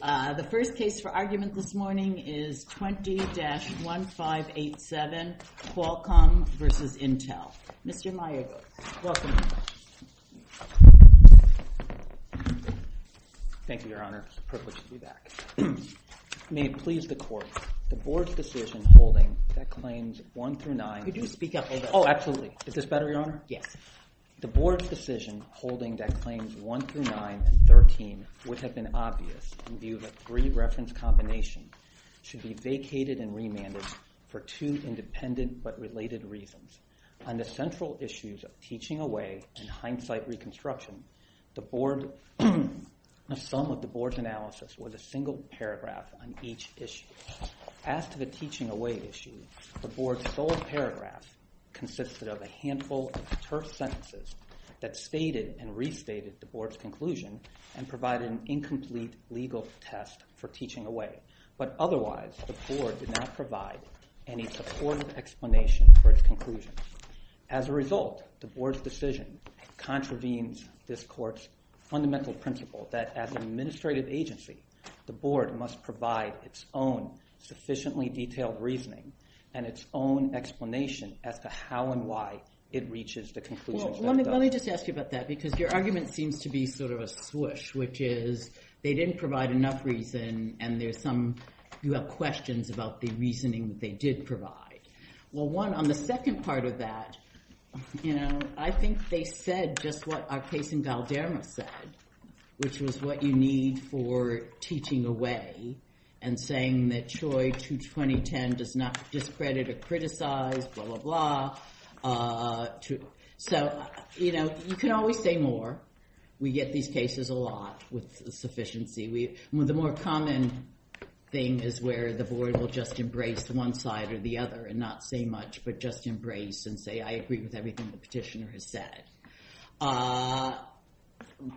The first case for argument this morning is 20-1587 Qualcomm v. Intel. Mr. Miyagawa, welcome. Thank you, Your Honor. It's a privilege to be back. May it please the Court, the Board's decision holding that Claims 1 through 9 Could you speak up a little? Oh, absolutely. Is this better, Your Honor? Yes. The Board's decision holding that Claims 1 through 9 and 13 would have been obvious in view of a three-reference combination Should be vacated and remanded for two independent but related reasons. On the central issues of Teaching Away and Hindsight Reconstruction, Some of the Board's analysis was a single paragraph on each issue. As to the Teaching Away issue, the Board's sole paragraph consisted of a handful of terse sentences That stated and restated the Board's conclusion and provided an incomplete legal test for Teaching Away. But otherwise, the Board did not provide any supportive explanation for its conclusion. As a result, the Board's decision contravenes this Court's fundamental principle That as an administrative agency, the Board must provide its own sufficiently detailed reasoning And its own explanation as to how and why it reaches the conclusions that it does. Well, let me just ask you about that because your argument seems to be sort of a swoosh Which is they didn't provide enough reason and you have questions about the reasoning they did provide. Well, on the second part of that, I think they said just what our case in Valderma said Which was what you need for Teaching Away And saying that CHOI-22010 does not discredit or criticize, blah, blah, blah. So, you know, you can always say more. We get these cases a lot with sufficiency. The more common thing is where the Board will just embrace one side or the other And not say much but just embrace and say, I agree with everything the petitioner has said.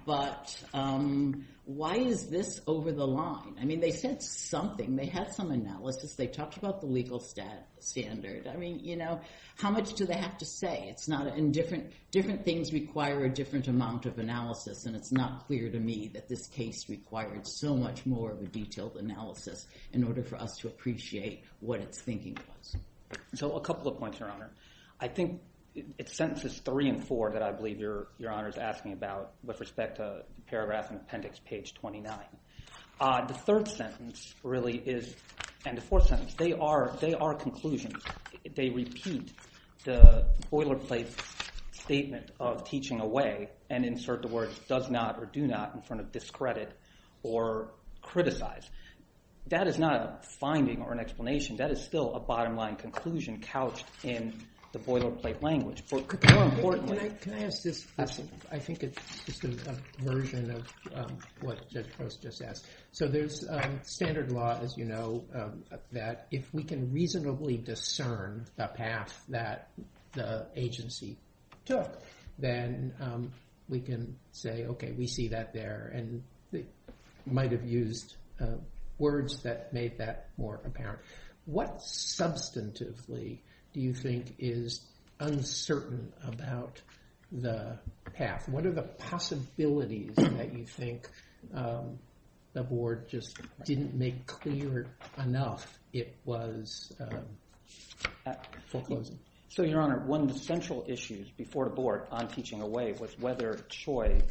But why is this over the line? I mean, they said something. They had some analysis. They talked about the legal standard. I mean, you know, how much do they have to say? Different things require a different amount of analysis. And it's not clear to me that this case required so much more of a detailed analysis In order for us to appreciate what it's thinking was. So a couple of points, Your Honor. I think it's sentences three and four that I believe Your Honor is asking about With respect to paragraphs and appendix page 29. The third sentence really is, and the fourth sentence, they are conclusions. They repeat the boilerplate statement of Teaching Away And insert the words does not or do not in front of discredit or criticize. That is not a finding or an explanation. That is still a bottom line conclusion couched in the boilerplate language. Can I ask this? I think it's just a version of what Judge Post just asked. So there's standard law, as you know, that if we can reasonably discern the path that the agency took Then we can say, okay, we see that there. And they might have used words that made that more apparent. What substantively do you think is uncertain about the path? What are the possibilities that you think the board just didn't make clear enough it was full closing? So, Your Honor, one of the central issues before the board on Teaching Away Was whether Choi's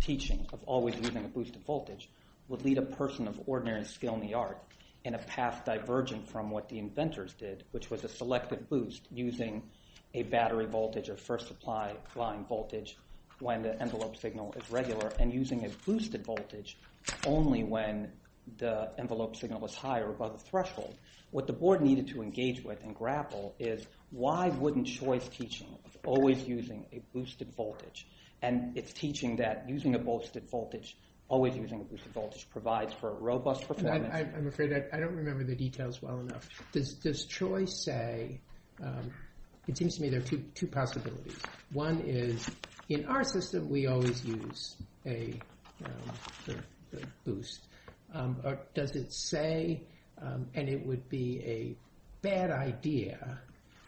teaching of always using a boosted voltage would lead a person of ordinary skill in the art In a path diverging from what the inventors did, which was a selected boost Using a battery voltage or first supply line voltage when the envelope signal is regular And using a boosted voltage only when the envelope signal was higher above the threshold. What the board needed to engage with and grapple is Why wouldn't Choi's teaching of always using a boosted voltage And its teaching that using a boosted voltage, always using a boosted voltage provides for a robust performance? I'm afraid I don't remember the details well enough. Does Choi say, it seems to me there are two possibilities. One is, in our system we always use a boost. Does it say, and it would be a bad idea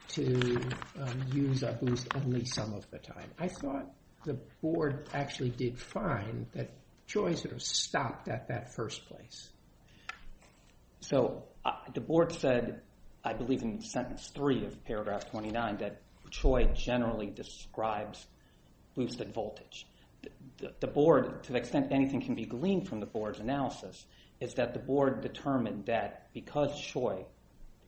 to use a boost at least some of the time. I thought the board actually did fine that Choi sort of stopped at that first place. So, the board said, I believe in sentence three of paragraph 29 The board, to the extent anything can be gleaned from the board's analysis Is that the board determined that because Choi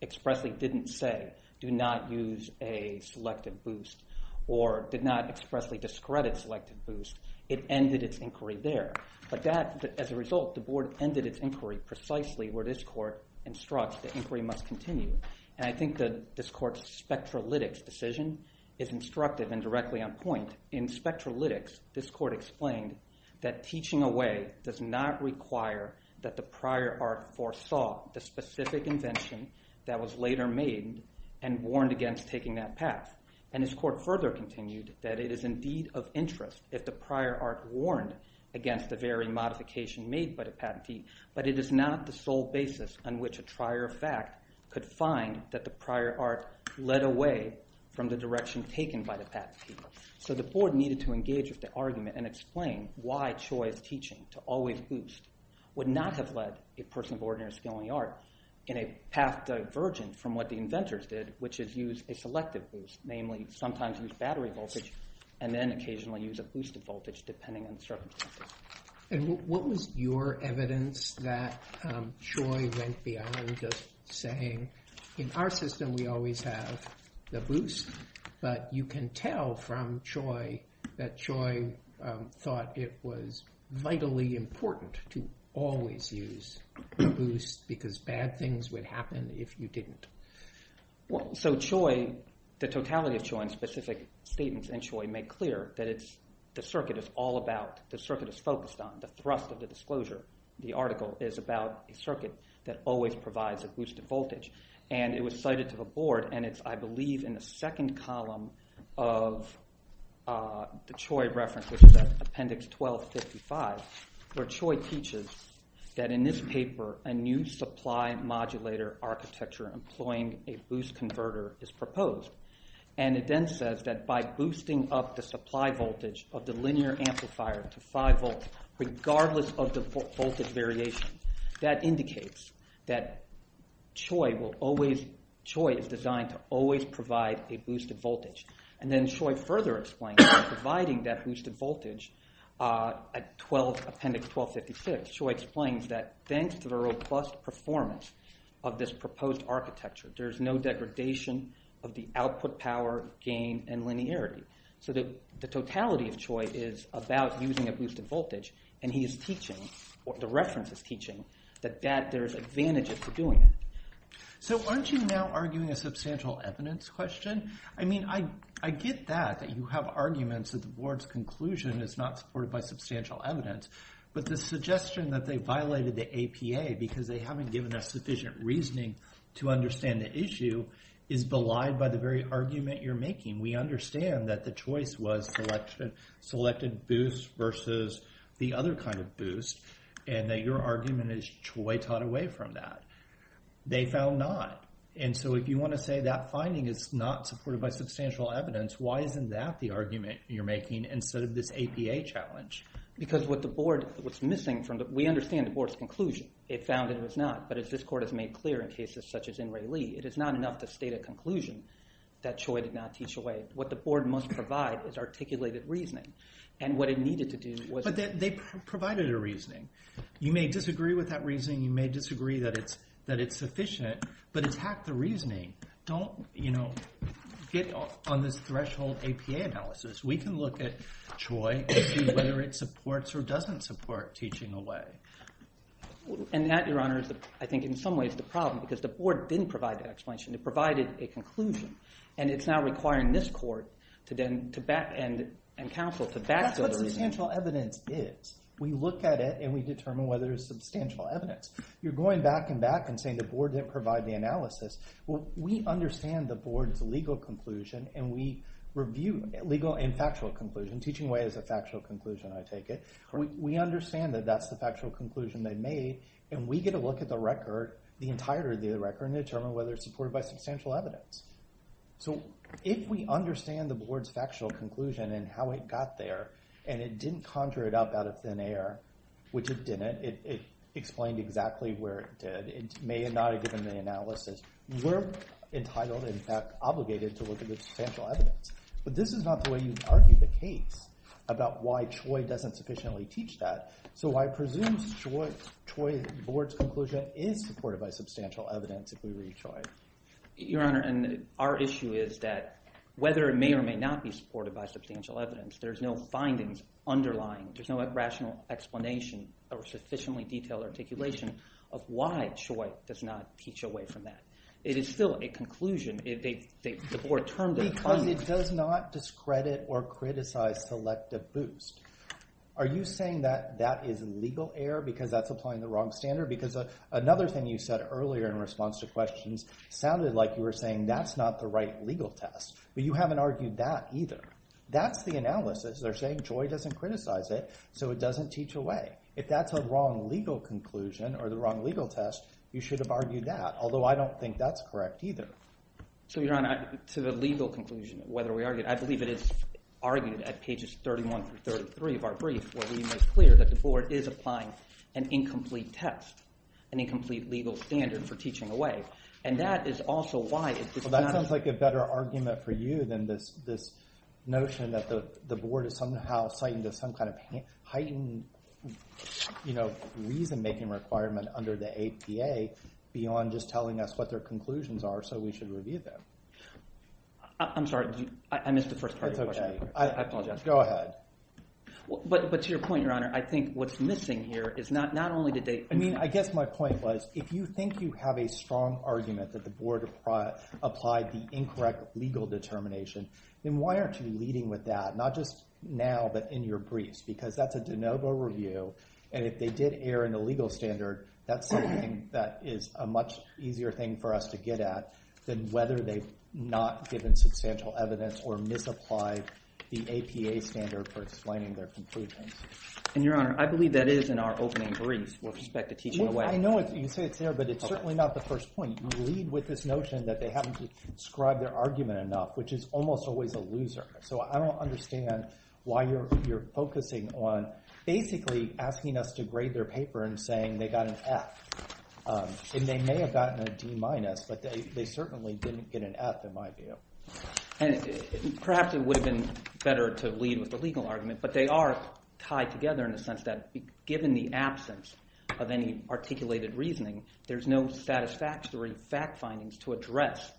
expressly didn't say Do not use a selected boost or did not expressly discredit selected boost It ended its inquiry there. But that, as a result, the board ended its inquiry precisely where this court instructs that inquiry must continue. And I think that this court's spectrolytics decision is instructive and directly on point. In spectrolytics, this court explained that teaching away does not require That the prior arc foresaw the specific invention that was later made And warned against taking that path. And this court further continued that it is indeed of interest if the prior arc warned Against the very modification made by the patentee. But it is not the sole basis on which a trier of fact could find that the prior arc Led away from the direction taken by the patentee. So the board needed to engage with the argument and explain why Choi's teaching To always boost would not have led a person of ordinary skill in the art In a path divergent from what the inventors did, which is use a selected boost Namely, sometimes use battery voltage and then occasionally use a boosted voltage Depending on the circumstances. And what was your evidence that Choi went beyond just saying In our system we always have the boost, but you can tell from Choi That Choi thought it was vitally important to always use the boost Because bad things would happen if you didn't. So Choi, the totality of Choi and specific statements in Choi make clear That the circuit is all about, the circuit is focused on the thrust of the disclosure. The article is about a circuit that always provides a boosted voltage. And it was cited to the board, and it's I believe in the second column Of the Choi reference, which is at appendix 1255 Where Choi teaches that in this paper a new supply modulator architecture Employing a boost converter is proposed. And it then says that by boosting up the supply voltage of the linear amplifier To five volts, regardless of the voltage variation That indicates that Choi is designed to always provide a boosted voltage. And then Choi further explains that by providing that boosted voltage At appendix 1256, Choi explains that thanks to the robust performance Of this proposed architecture, there's no degradation of the output power Gain and linearity. So the totality of Choi is about using a boosted voltage And he is teaching, the reference is teaching That there's advantages to doing it. So aren't you now arguing a substantial evidence question? I mean I get that, that you have arguments that the board's conclusion Is not supported by substantial evidence But the suggestion that they violated the APA Because they haven't given us sufficient reasoning to understand the issue Is belied by the very argument you're making. We understand that the choice was selected boost Versus the other kind of boost And that your argument is Choi taught away from that. They found not. And so if you want to say that finding is not supported by substantial evidence Why isn't that the argument you're making instead of this APA challenge? Because what the board, what's missing from the We understand the board's conclusion. It found it was not. But as this court has made clear in cases such as In-Rae Lee It is not enough to state a conclusion That Choi did not teach away. What the board must provide is articulated reasoning. And what it needed to do was But they provided a reasoning. You may disagree with that reasoning. You may disagree that it's sufficient. But it's half the reasoning. Don't, you know, get on this threshold APA analysis. We can look at Choi and see whether it supports or doesn't support teaching away. And that, your honor, is I think in some ways the problem Because the board didn't provide the explanation. It provided a conclusion. And it's now requiring this court to back, and counsel to back That's what substantial evidence is. We look at it and we determine whether it's substantial evidence. You're going back and back and saying the board didn't provide the analysis. We understand the board's legal conclusion. And we review legal and factual conclusion. Teaching away is a factual conclusion, I take it. We understand that that's the factual conclusion they made. And we get a look at the record, the entirety of the record And determine whether it's supported by substantial evidence. So if we understand the board's factual conclusion and how it got there And it didn't conjure it up out of thin air, which it didn't It explained exactly where it did. It may not have given the analysis. We're entitled, in fact, obligated to look at the substantial evidence. But this is not the way you argue the case about why Choi doesn't sufficiently teach that. So I presume Choi's board's conclusion is supported by substantial evidence, if we read Choi. Your Honor, our issue is that whether it may or may not be supported by substantial evidence There's no findings underlying, there's no rational explanation Or sufficiently detailed articulation of why Choi does not teach away from that. It is still a conclusion. Because it does not discredit or criticize selective boost. Are you saying that that is legal error? Because that's applying the wrong standard? Because another thing you said earlier in response to questions Sounded like you were saying that's not the right legal test. But you haven't argued that either. That's the analysis. They're saying Choi doesn't criticize it, so it doesn't teach away. If that's a wrong legal conclusion or the wrong legal test, you should have argued that. Although I don't think that's correct either. So, Your Honor, to the legal conclusion, whether we argue it. I believe it is argued at pages 31 through 33 of our brief Where we make clear that the board is applying an incomplete test. An incomplete legal standard for teaching away. And that is also why it does not That sounds like a better argument for you than this notion that the board is somehow citing Some kind of heightened, you know, reason-making requirement under the APA Beyond just telling us what their conclusions are, so we should review them. I'm sorry, I missed the first part of your question. I apologize. Go ahead. But to your point, Your Honor, I think what's missing here is not only did they I mean, I guess my point was, if you think you have a strong argument that the board Applied the incorrect legal determination, then why aren't you leading with that? Not just now, but in your briefs. Because that's a de novo review. And if they did err in the legal standard, that's something that is a much easier thing For us to get at than whether they've not given substantial evidence or misapplied The APA standard for explaining their conclusions. And, Your Honor, I believe that is in our opening brief with respect to teaching away. I know, you say it's there, but it's certainly not the first point. You lead with this notion that they haven't described their argument enough, which is almost always a loser. So I don't understand why you're focusing on basically asking us to grade their paper And saying they got an F. And they may have gotten a D minus, but they certainly didn't get an F, in my view. Perhaps it would have been better to lead with the legal argument. But they are tied together in the sense that, given the absence of any articulated reasoning There's no satisfactory fact findings to address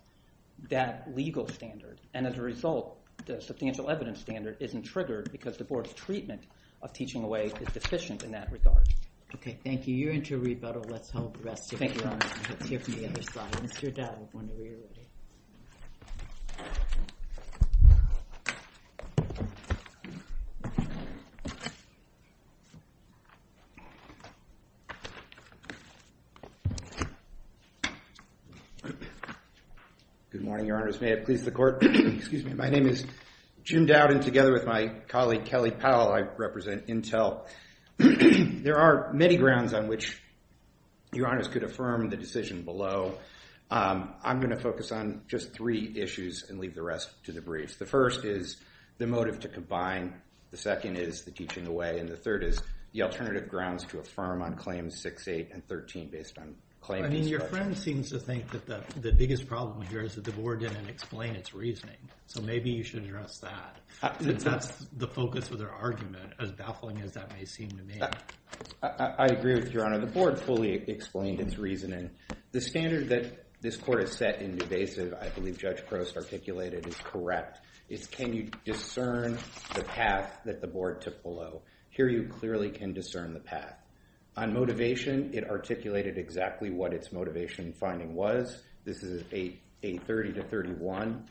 that legal standard. And as a result, the substantial evidence standard isn't triggered Because the board's treatment of teaching away is deficient in that regard. Okay, thank you. You're into rebuttal. Let's hold the rest of your comments. Let's hear from the other side. Mr. Dowd, I wonder where you're at. Good morning, your honors. May it please the court. My name is Jim Dowd, and together with my colleague Kelly Powell, I represent Intel. There are many grounds on which your honors could affirm the decision below. I'm going to focus on just three issues and leave the rest to the briefs. The first is the motive to combine. The second is the teaching away. And the third is the alternative grounds to affirm on Claims 6, 8, and 13 based on claims. Your friend seems to think that the biggest problem here is that the board didn't explain its reasoning. So maybe you should address that. That's the focus of their argument, as baffling as that may seem to me. I agree with your honor. The board fully explained its reasoning. The standard that this court has set in the evasive, I believe Judge Prost articulated, is correct. It's can you discern the path that the board took below. Here you clearly can discern the path. On motivation, it articulated exactly what its motivation finding was. This is a 30 to 31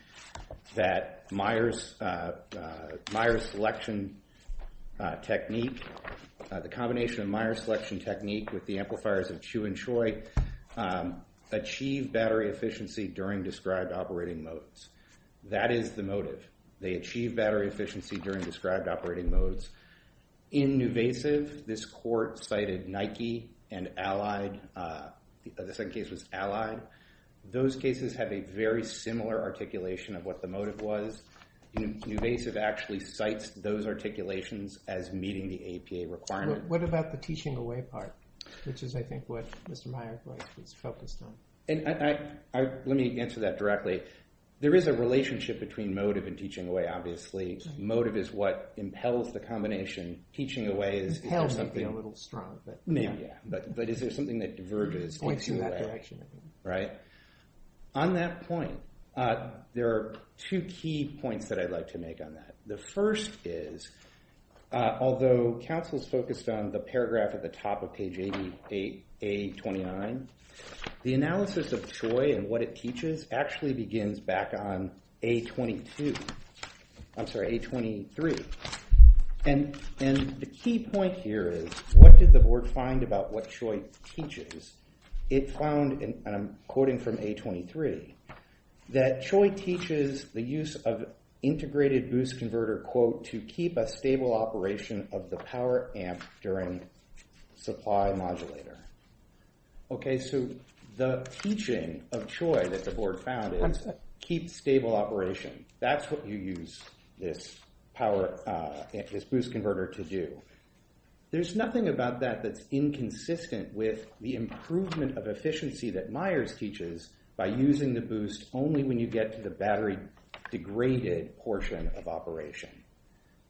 that Myers selection technique, the combination of Myers selection technique with the amplifiers of Chu and Choi, achieve battery efficiency during described operating modes. That is the motive. They achieve battery efficiency during described operating modes. In evasive, this court cited Nike and Allied. The second case was Allied. Those cases have a very similar articulation of what the motive was. Evasive actually cites those articulations as meeting the APA requirement. What about the teaching away part, which is, I think, what Mr. Myers was focused on? Let me answer that directly. There is a relationship between motive and teaching away, obviously. Motive is what impels the combination. Teaching away is- Impels would be a little strong, but- Maybe, yeah. But is there something that diverges- Points in that direction. Right? On that point, there are two key points that I'd like to make on that. The first is, although counsel's focused on the paragraph at the top of page 88A29, the analysis of Choi and what it teaches actually begins back on A22. I'm sorry, A23. And the key point here is, what did the board find about what Choi teaches? It found, and I'm quoting from A23, that Choi teaches the use of integrated boost converter quote to keep a stable operation of the power amp during supply modulator. Okay, so the teaching of Choi that the board found is keep stable operation. That's what you use this boost converter to do. There's nothing about that that's inconsistent with the improvement of efficiency that Myers teaches by using the boost only when you get to the battery degraded portion of operation.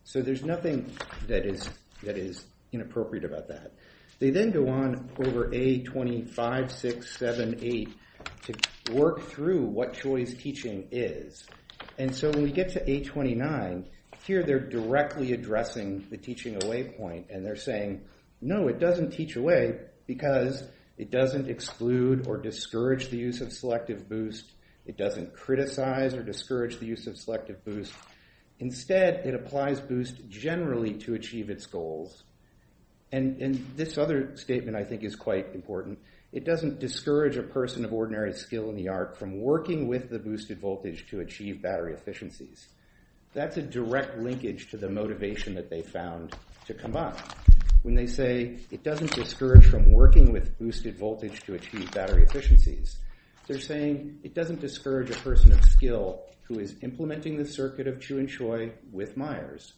So there's nothing that is inappropriate about that. They then go on over A25, 6, 7, 8 to work through what Choi's teaching is. And so when we get to A29, here they're directly addressing the teaching away point. And they're saying, no, it doesn't teach away because it doesn't exclude or discourage the use of selective boost. It doesn't criticize or discourage the use of selective boost. Instead, it applies boost generally to achieve its goals. And this other statement I think is quite important. It doesn't discourage a person of ordinary skill in the art from working with the boosted voltage to achieve battery efficiencies. That's a direct linkage to the motivation that they found to come up. When they say it doesn't discourage from working with boosted voltage to achieve battery efficiencies, they're saying it doesn't discourage a person of skill who is implementing the circuit of Chu and Choi with Myers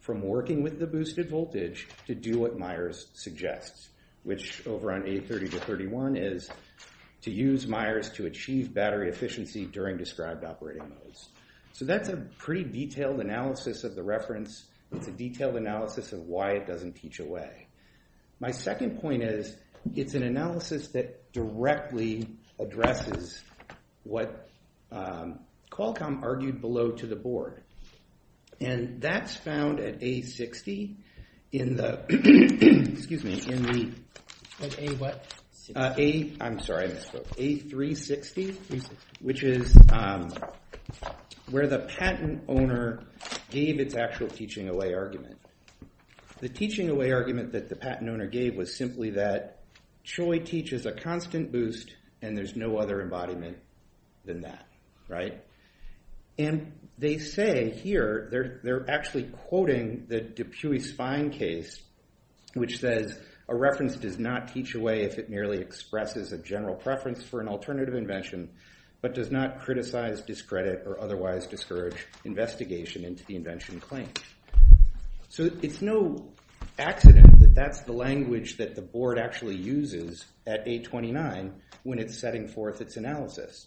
from working with the boosted voltage to do what Myers suggests, which over on A30 to 31 is to use Myers to achieve battery efficiency during described operating modes. So that's a pretty detailed analysis of the reference. It's a detailed analysis of why it doesn't teach away. My second point is it's an analysis that directly addresses what Qualcomm argued below to the board. And that's found at A60 in the – excuse me, in the – At A what? A – I'm sorry, I misspoke. A360, which is where the patent owner gave its actual teaching away argument. The teaching away argument that the patent owner gave was simply that Choi teaches a constant boost, and there's no other embodiment than that, right? And they say here – they're actually quoting the DePuy-Spine case, which says a reference does not teach away if it merely expresses a general preference for an alternative invention, but does not criticize, discredit, or otherwise discourage investigation into the invention claim. So it's no accident that that's the language that the board actually uses at A29 when it's setting forth its analysis.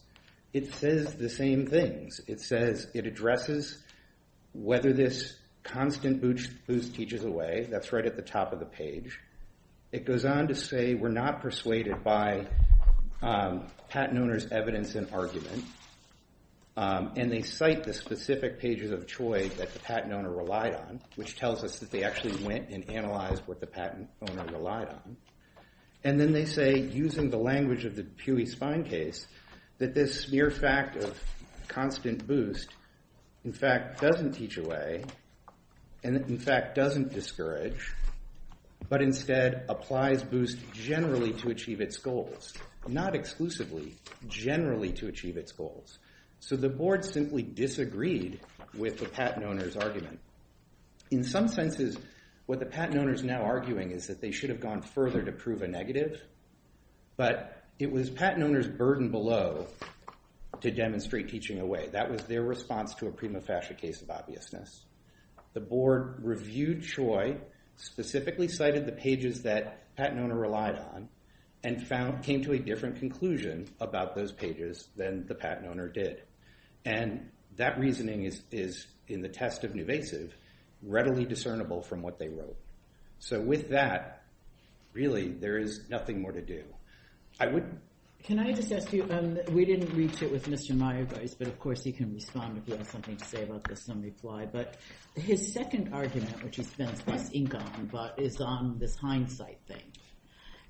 It says the same things. It says it addresses whether this constant boost teaches away. That's right at the top of the page. It goes on to say we're not persuaded by patent owner's evidence and argument. And they cite the specific pages of Choi that the patent owner relied on, which tells us that they actually went and analyzed what the patent owner relied on. And then they say, using the language of the DePuy-Spine case, that this mere fact of constant boost, in fact, doesn't teach away and, in fact, doesn't discourage, but instead applies boost generally to achieve its goals, not exclusively, generally to achieve its goals. So the board simply disagreed with the patent owner's argument. In some senses, what the patent owner is now arguing is that they should have gone further to prove a negative, but it was patent owner's burden below to demonstrate teaching away. That was their response to a prima facie case of obviousness. The board reviewed Choi, specifically cited the pages that patent owner relied on, and came to a different conclusion about those pages than the patent owner did. And that reasoning is, in the test of nuvasive, readily discernible from what they wrote. So with that, really, there is nothing more to do. Can I just ask you, we didn't reach it with Mr. Mayerweiss, but of course he can respond if he has something to say about this in reply. But his second argument, which he spends less ink on, is on this hindsight thing.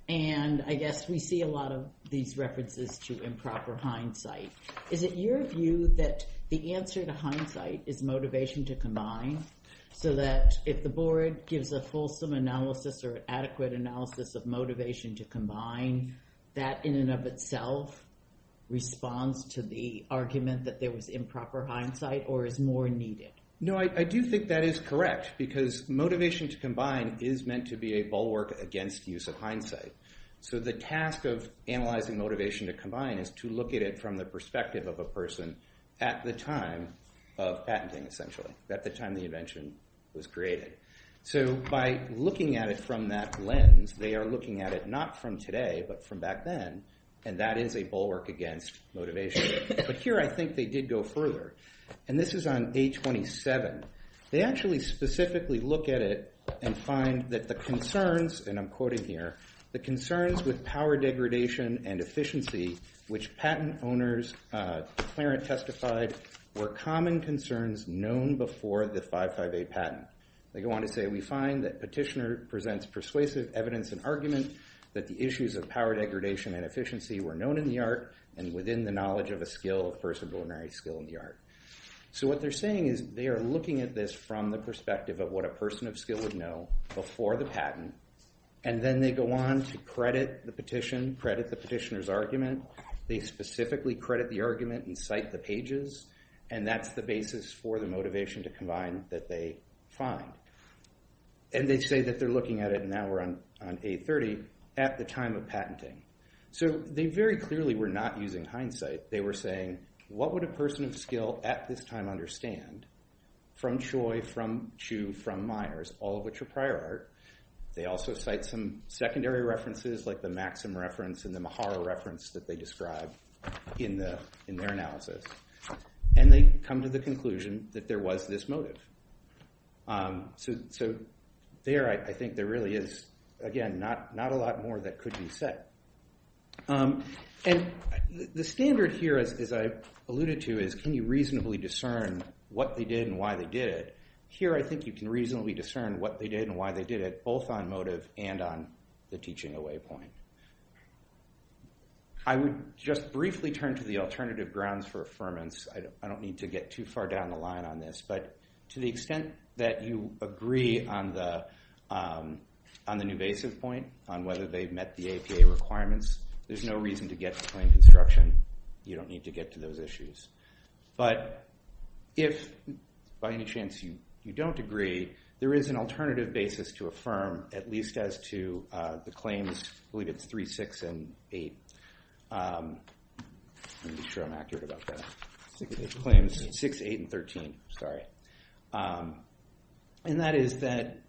And I guess we see a lot of these references to improper hindsight. Is it your view that the answer to hindsight is motivation to combine? So that if the board gives a fulsome analysis or adequate analysis of motivation to combine, that in and of itself responds to the argument that there was improper hindsight, or is more needed? No, I do think that is correct, because motivation to combine is meant to be a bulwark against use of hindsight. So the task of analyzing motivation to combine is to look at it from the perspective of a person at the time of patenting, essentially, at the time the invention was created. So by looking at it from that lens, they are looking at it not from today, but from back then. And that is a bulwark against motivation. But here I think they did go further. And this is on A27. They actually specifically look at it and find that the concerns, and I'm quoting here, the concerns with power degradation and efficiency, which patent owners, Clarence testified, were common concerns known before the 558 patent. They go on to say, we find that Petitioner presents persuasive evidence and argument that the issues of power degradation and efficiency were known in the art and within the knowledge of a person of ordinary skill in the art. So what they're saying is they are looking at this from the perspective of what a person of skill would know before the patent, and then they go on to credit the petition, credit the petitioner's argument. They specifically credit the argument and cite the pages, and that's the basis for the motivation to combine that they find. And they say that they're looking at it, and now we're on A30, at the time of patenting. So they very clearly were not using hindsight. They were saying, what would a person of skill at this time understand, from Choi, from Chu, from Myers, all of which are prior art. They also cite some secondary references, like the Maxim reference and the Mahara reference that they described in their analysis. And they come to the conclusion that there was this motive. So there, I think, there really is, again, not a lot more that could be said. And the standard here, as I alluded to, is can you reasonably discern what they did and why they did it? Here, I think you can reasonably discern what they did and why they did it, both on motive and on the teaching away point. I would just briefly turn to the alternative grounds for affirmance. I don't need to get too far down the line on this. But to the extent that you agree on the nubasive point, on whether they've met the APA requirements, there's no reason to get to claim construction. You don't need to get to those issues. But if, by any chance, you don't agree, there is an alternative basis to affirm, at least as to the claims, I believe it's 3, 6, and 8. Let me be sure I'm accurate about that. Claims 6, 8, and 13, sorry. And that is that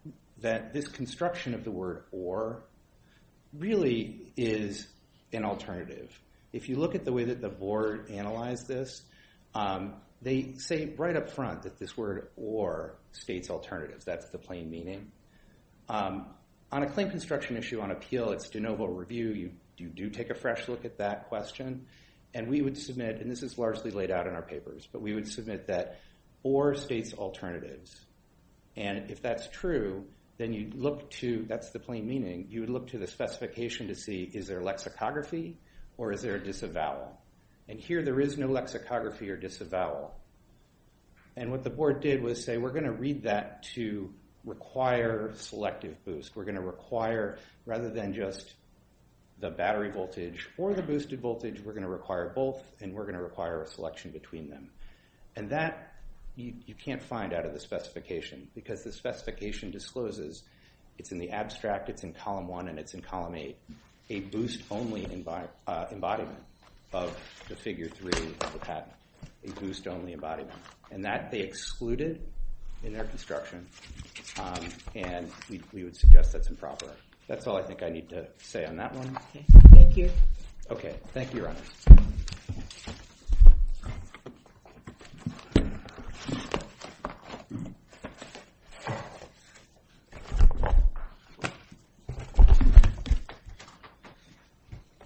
this construction of the word or really is an alternative. If you look at the way that the board analyzed this, they say right up front that this word or states alternatives. That's the plain meaning. On a claim construction issue, on appeal, it's de novo review. You do take a fresh look at that question. And we would submit, and this is largely laid out in our papers, but we would submit that or states alternatives. And if that's true, then you look to, that's the plain meaning, you would look to the specification to see is there a lexicography or is there a disavowal. And here there is no lexicography or disavowal. And what the board did was say we're going to read that to require selective boost. We're going to require, rather than just the battery voltage or the boosted voltage, we're going to require both and we're going to require a selection between them. And that you can't find out of the specification because the specification discloses, it's in the abstract, it's in column 1, and it's in column 8, a boost only embodiment of the figure 3 of the patent. A boost only embodiment. And that they excluded in their construction. And we would suggest that's improper. That's all I think I need to say on that one. Thank you. Okay, thank you, Your Honor.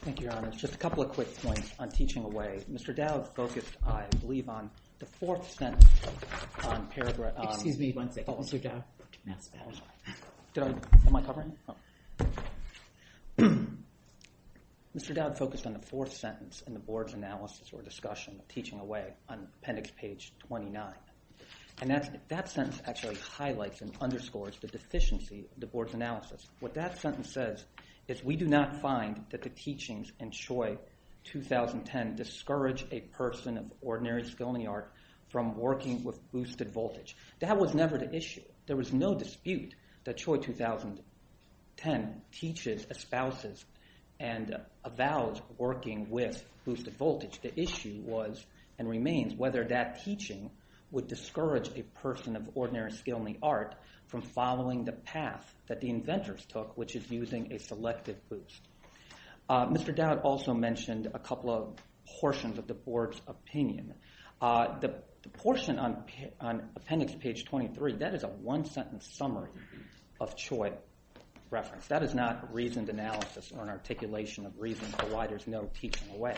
Thank you, Your Honor. Just a couple of quick points on teaching away. Mr. Dowd focused, I believe, on the fourth sentence on paragraph... Excuse me one second. Oh, Mr. Dowd. Am I covering? Oh. Mr. Dowd focused on the fourth sentence in the board's analysis or discussion of teaching away on appendix page 29. And that sentence actually highlights and underscores the deficiency of the board's analysis. What that sentence says is we do not find that the teachings in Choi 2010 discourage a person of ordinary skill in the art from working with boosted voltage. That was never the issue. There was no dispute that Choi 2010 teaches, espouses, and avows working with boosted voltage. The issue was and remains whether that teaching would discourage a person of ordinary skill in the art from following the path that the inventors took, which is using a selective boost. Mr. Dowd also mentioned a couple of portions of the board's opinion. The portion on appendix page 23, that is a one-sentence summary of Choi reference. That is not a reasoned analysis or an articulation of reasons for why there's no teaching away.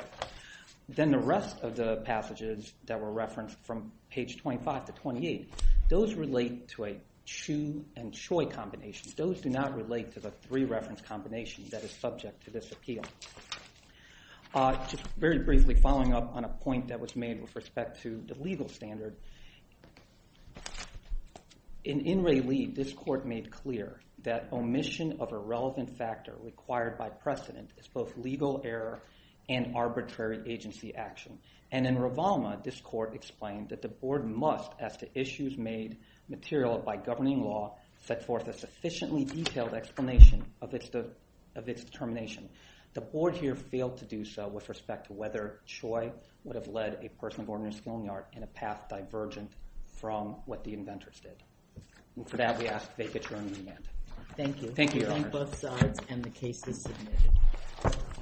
Then the rest of the passages that were referenced from page 25 to 28, those relate to a Chu and Choi combination. Those do not relate to the three-reference combination that is subject to this appeal. Just very briefly following up on a point that was made with respect to the legal standard. In In Re Li, this court made clear that omission of a relevant factor required by precedent is both legal error and arbitrary agency action. In Rovalma, this court explained that the board must, as to issues made material by governing law, set forth a sufficiently detailed explanation of its determination. The board here failed to do so with respect to whether Choi would have led a person born in a schoolyard in a path divergent from what the inventors did. And for that, we ask that you make your own amendment. Thank you. Thank you, Your Honor. I thank both sides and the case is submitted.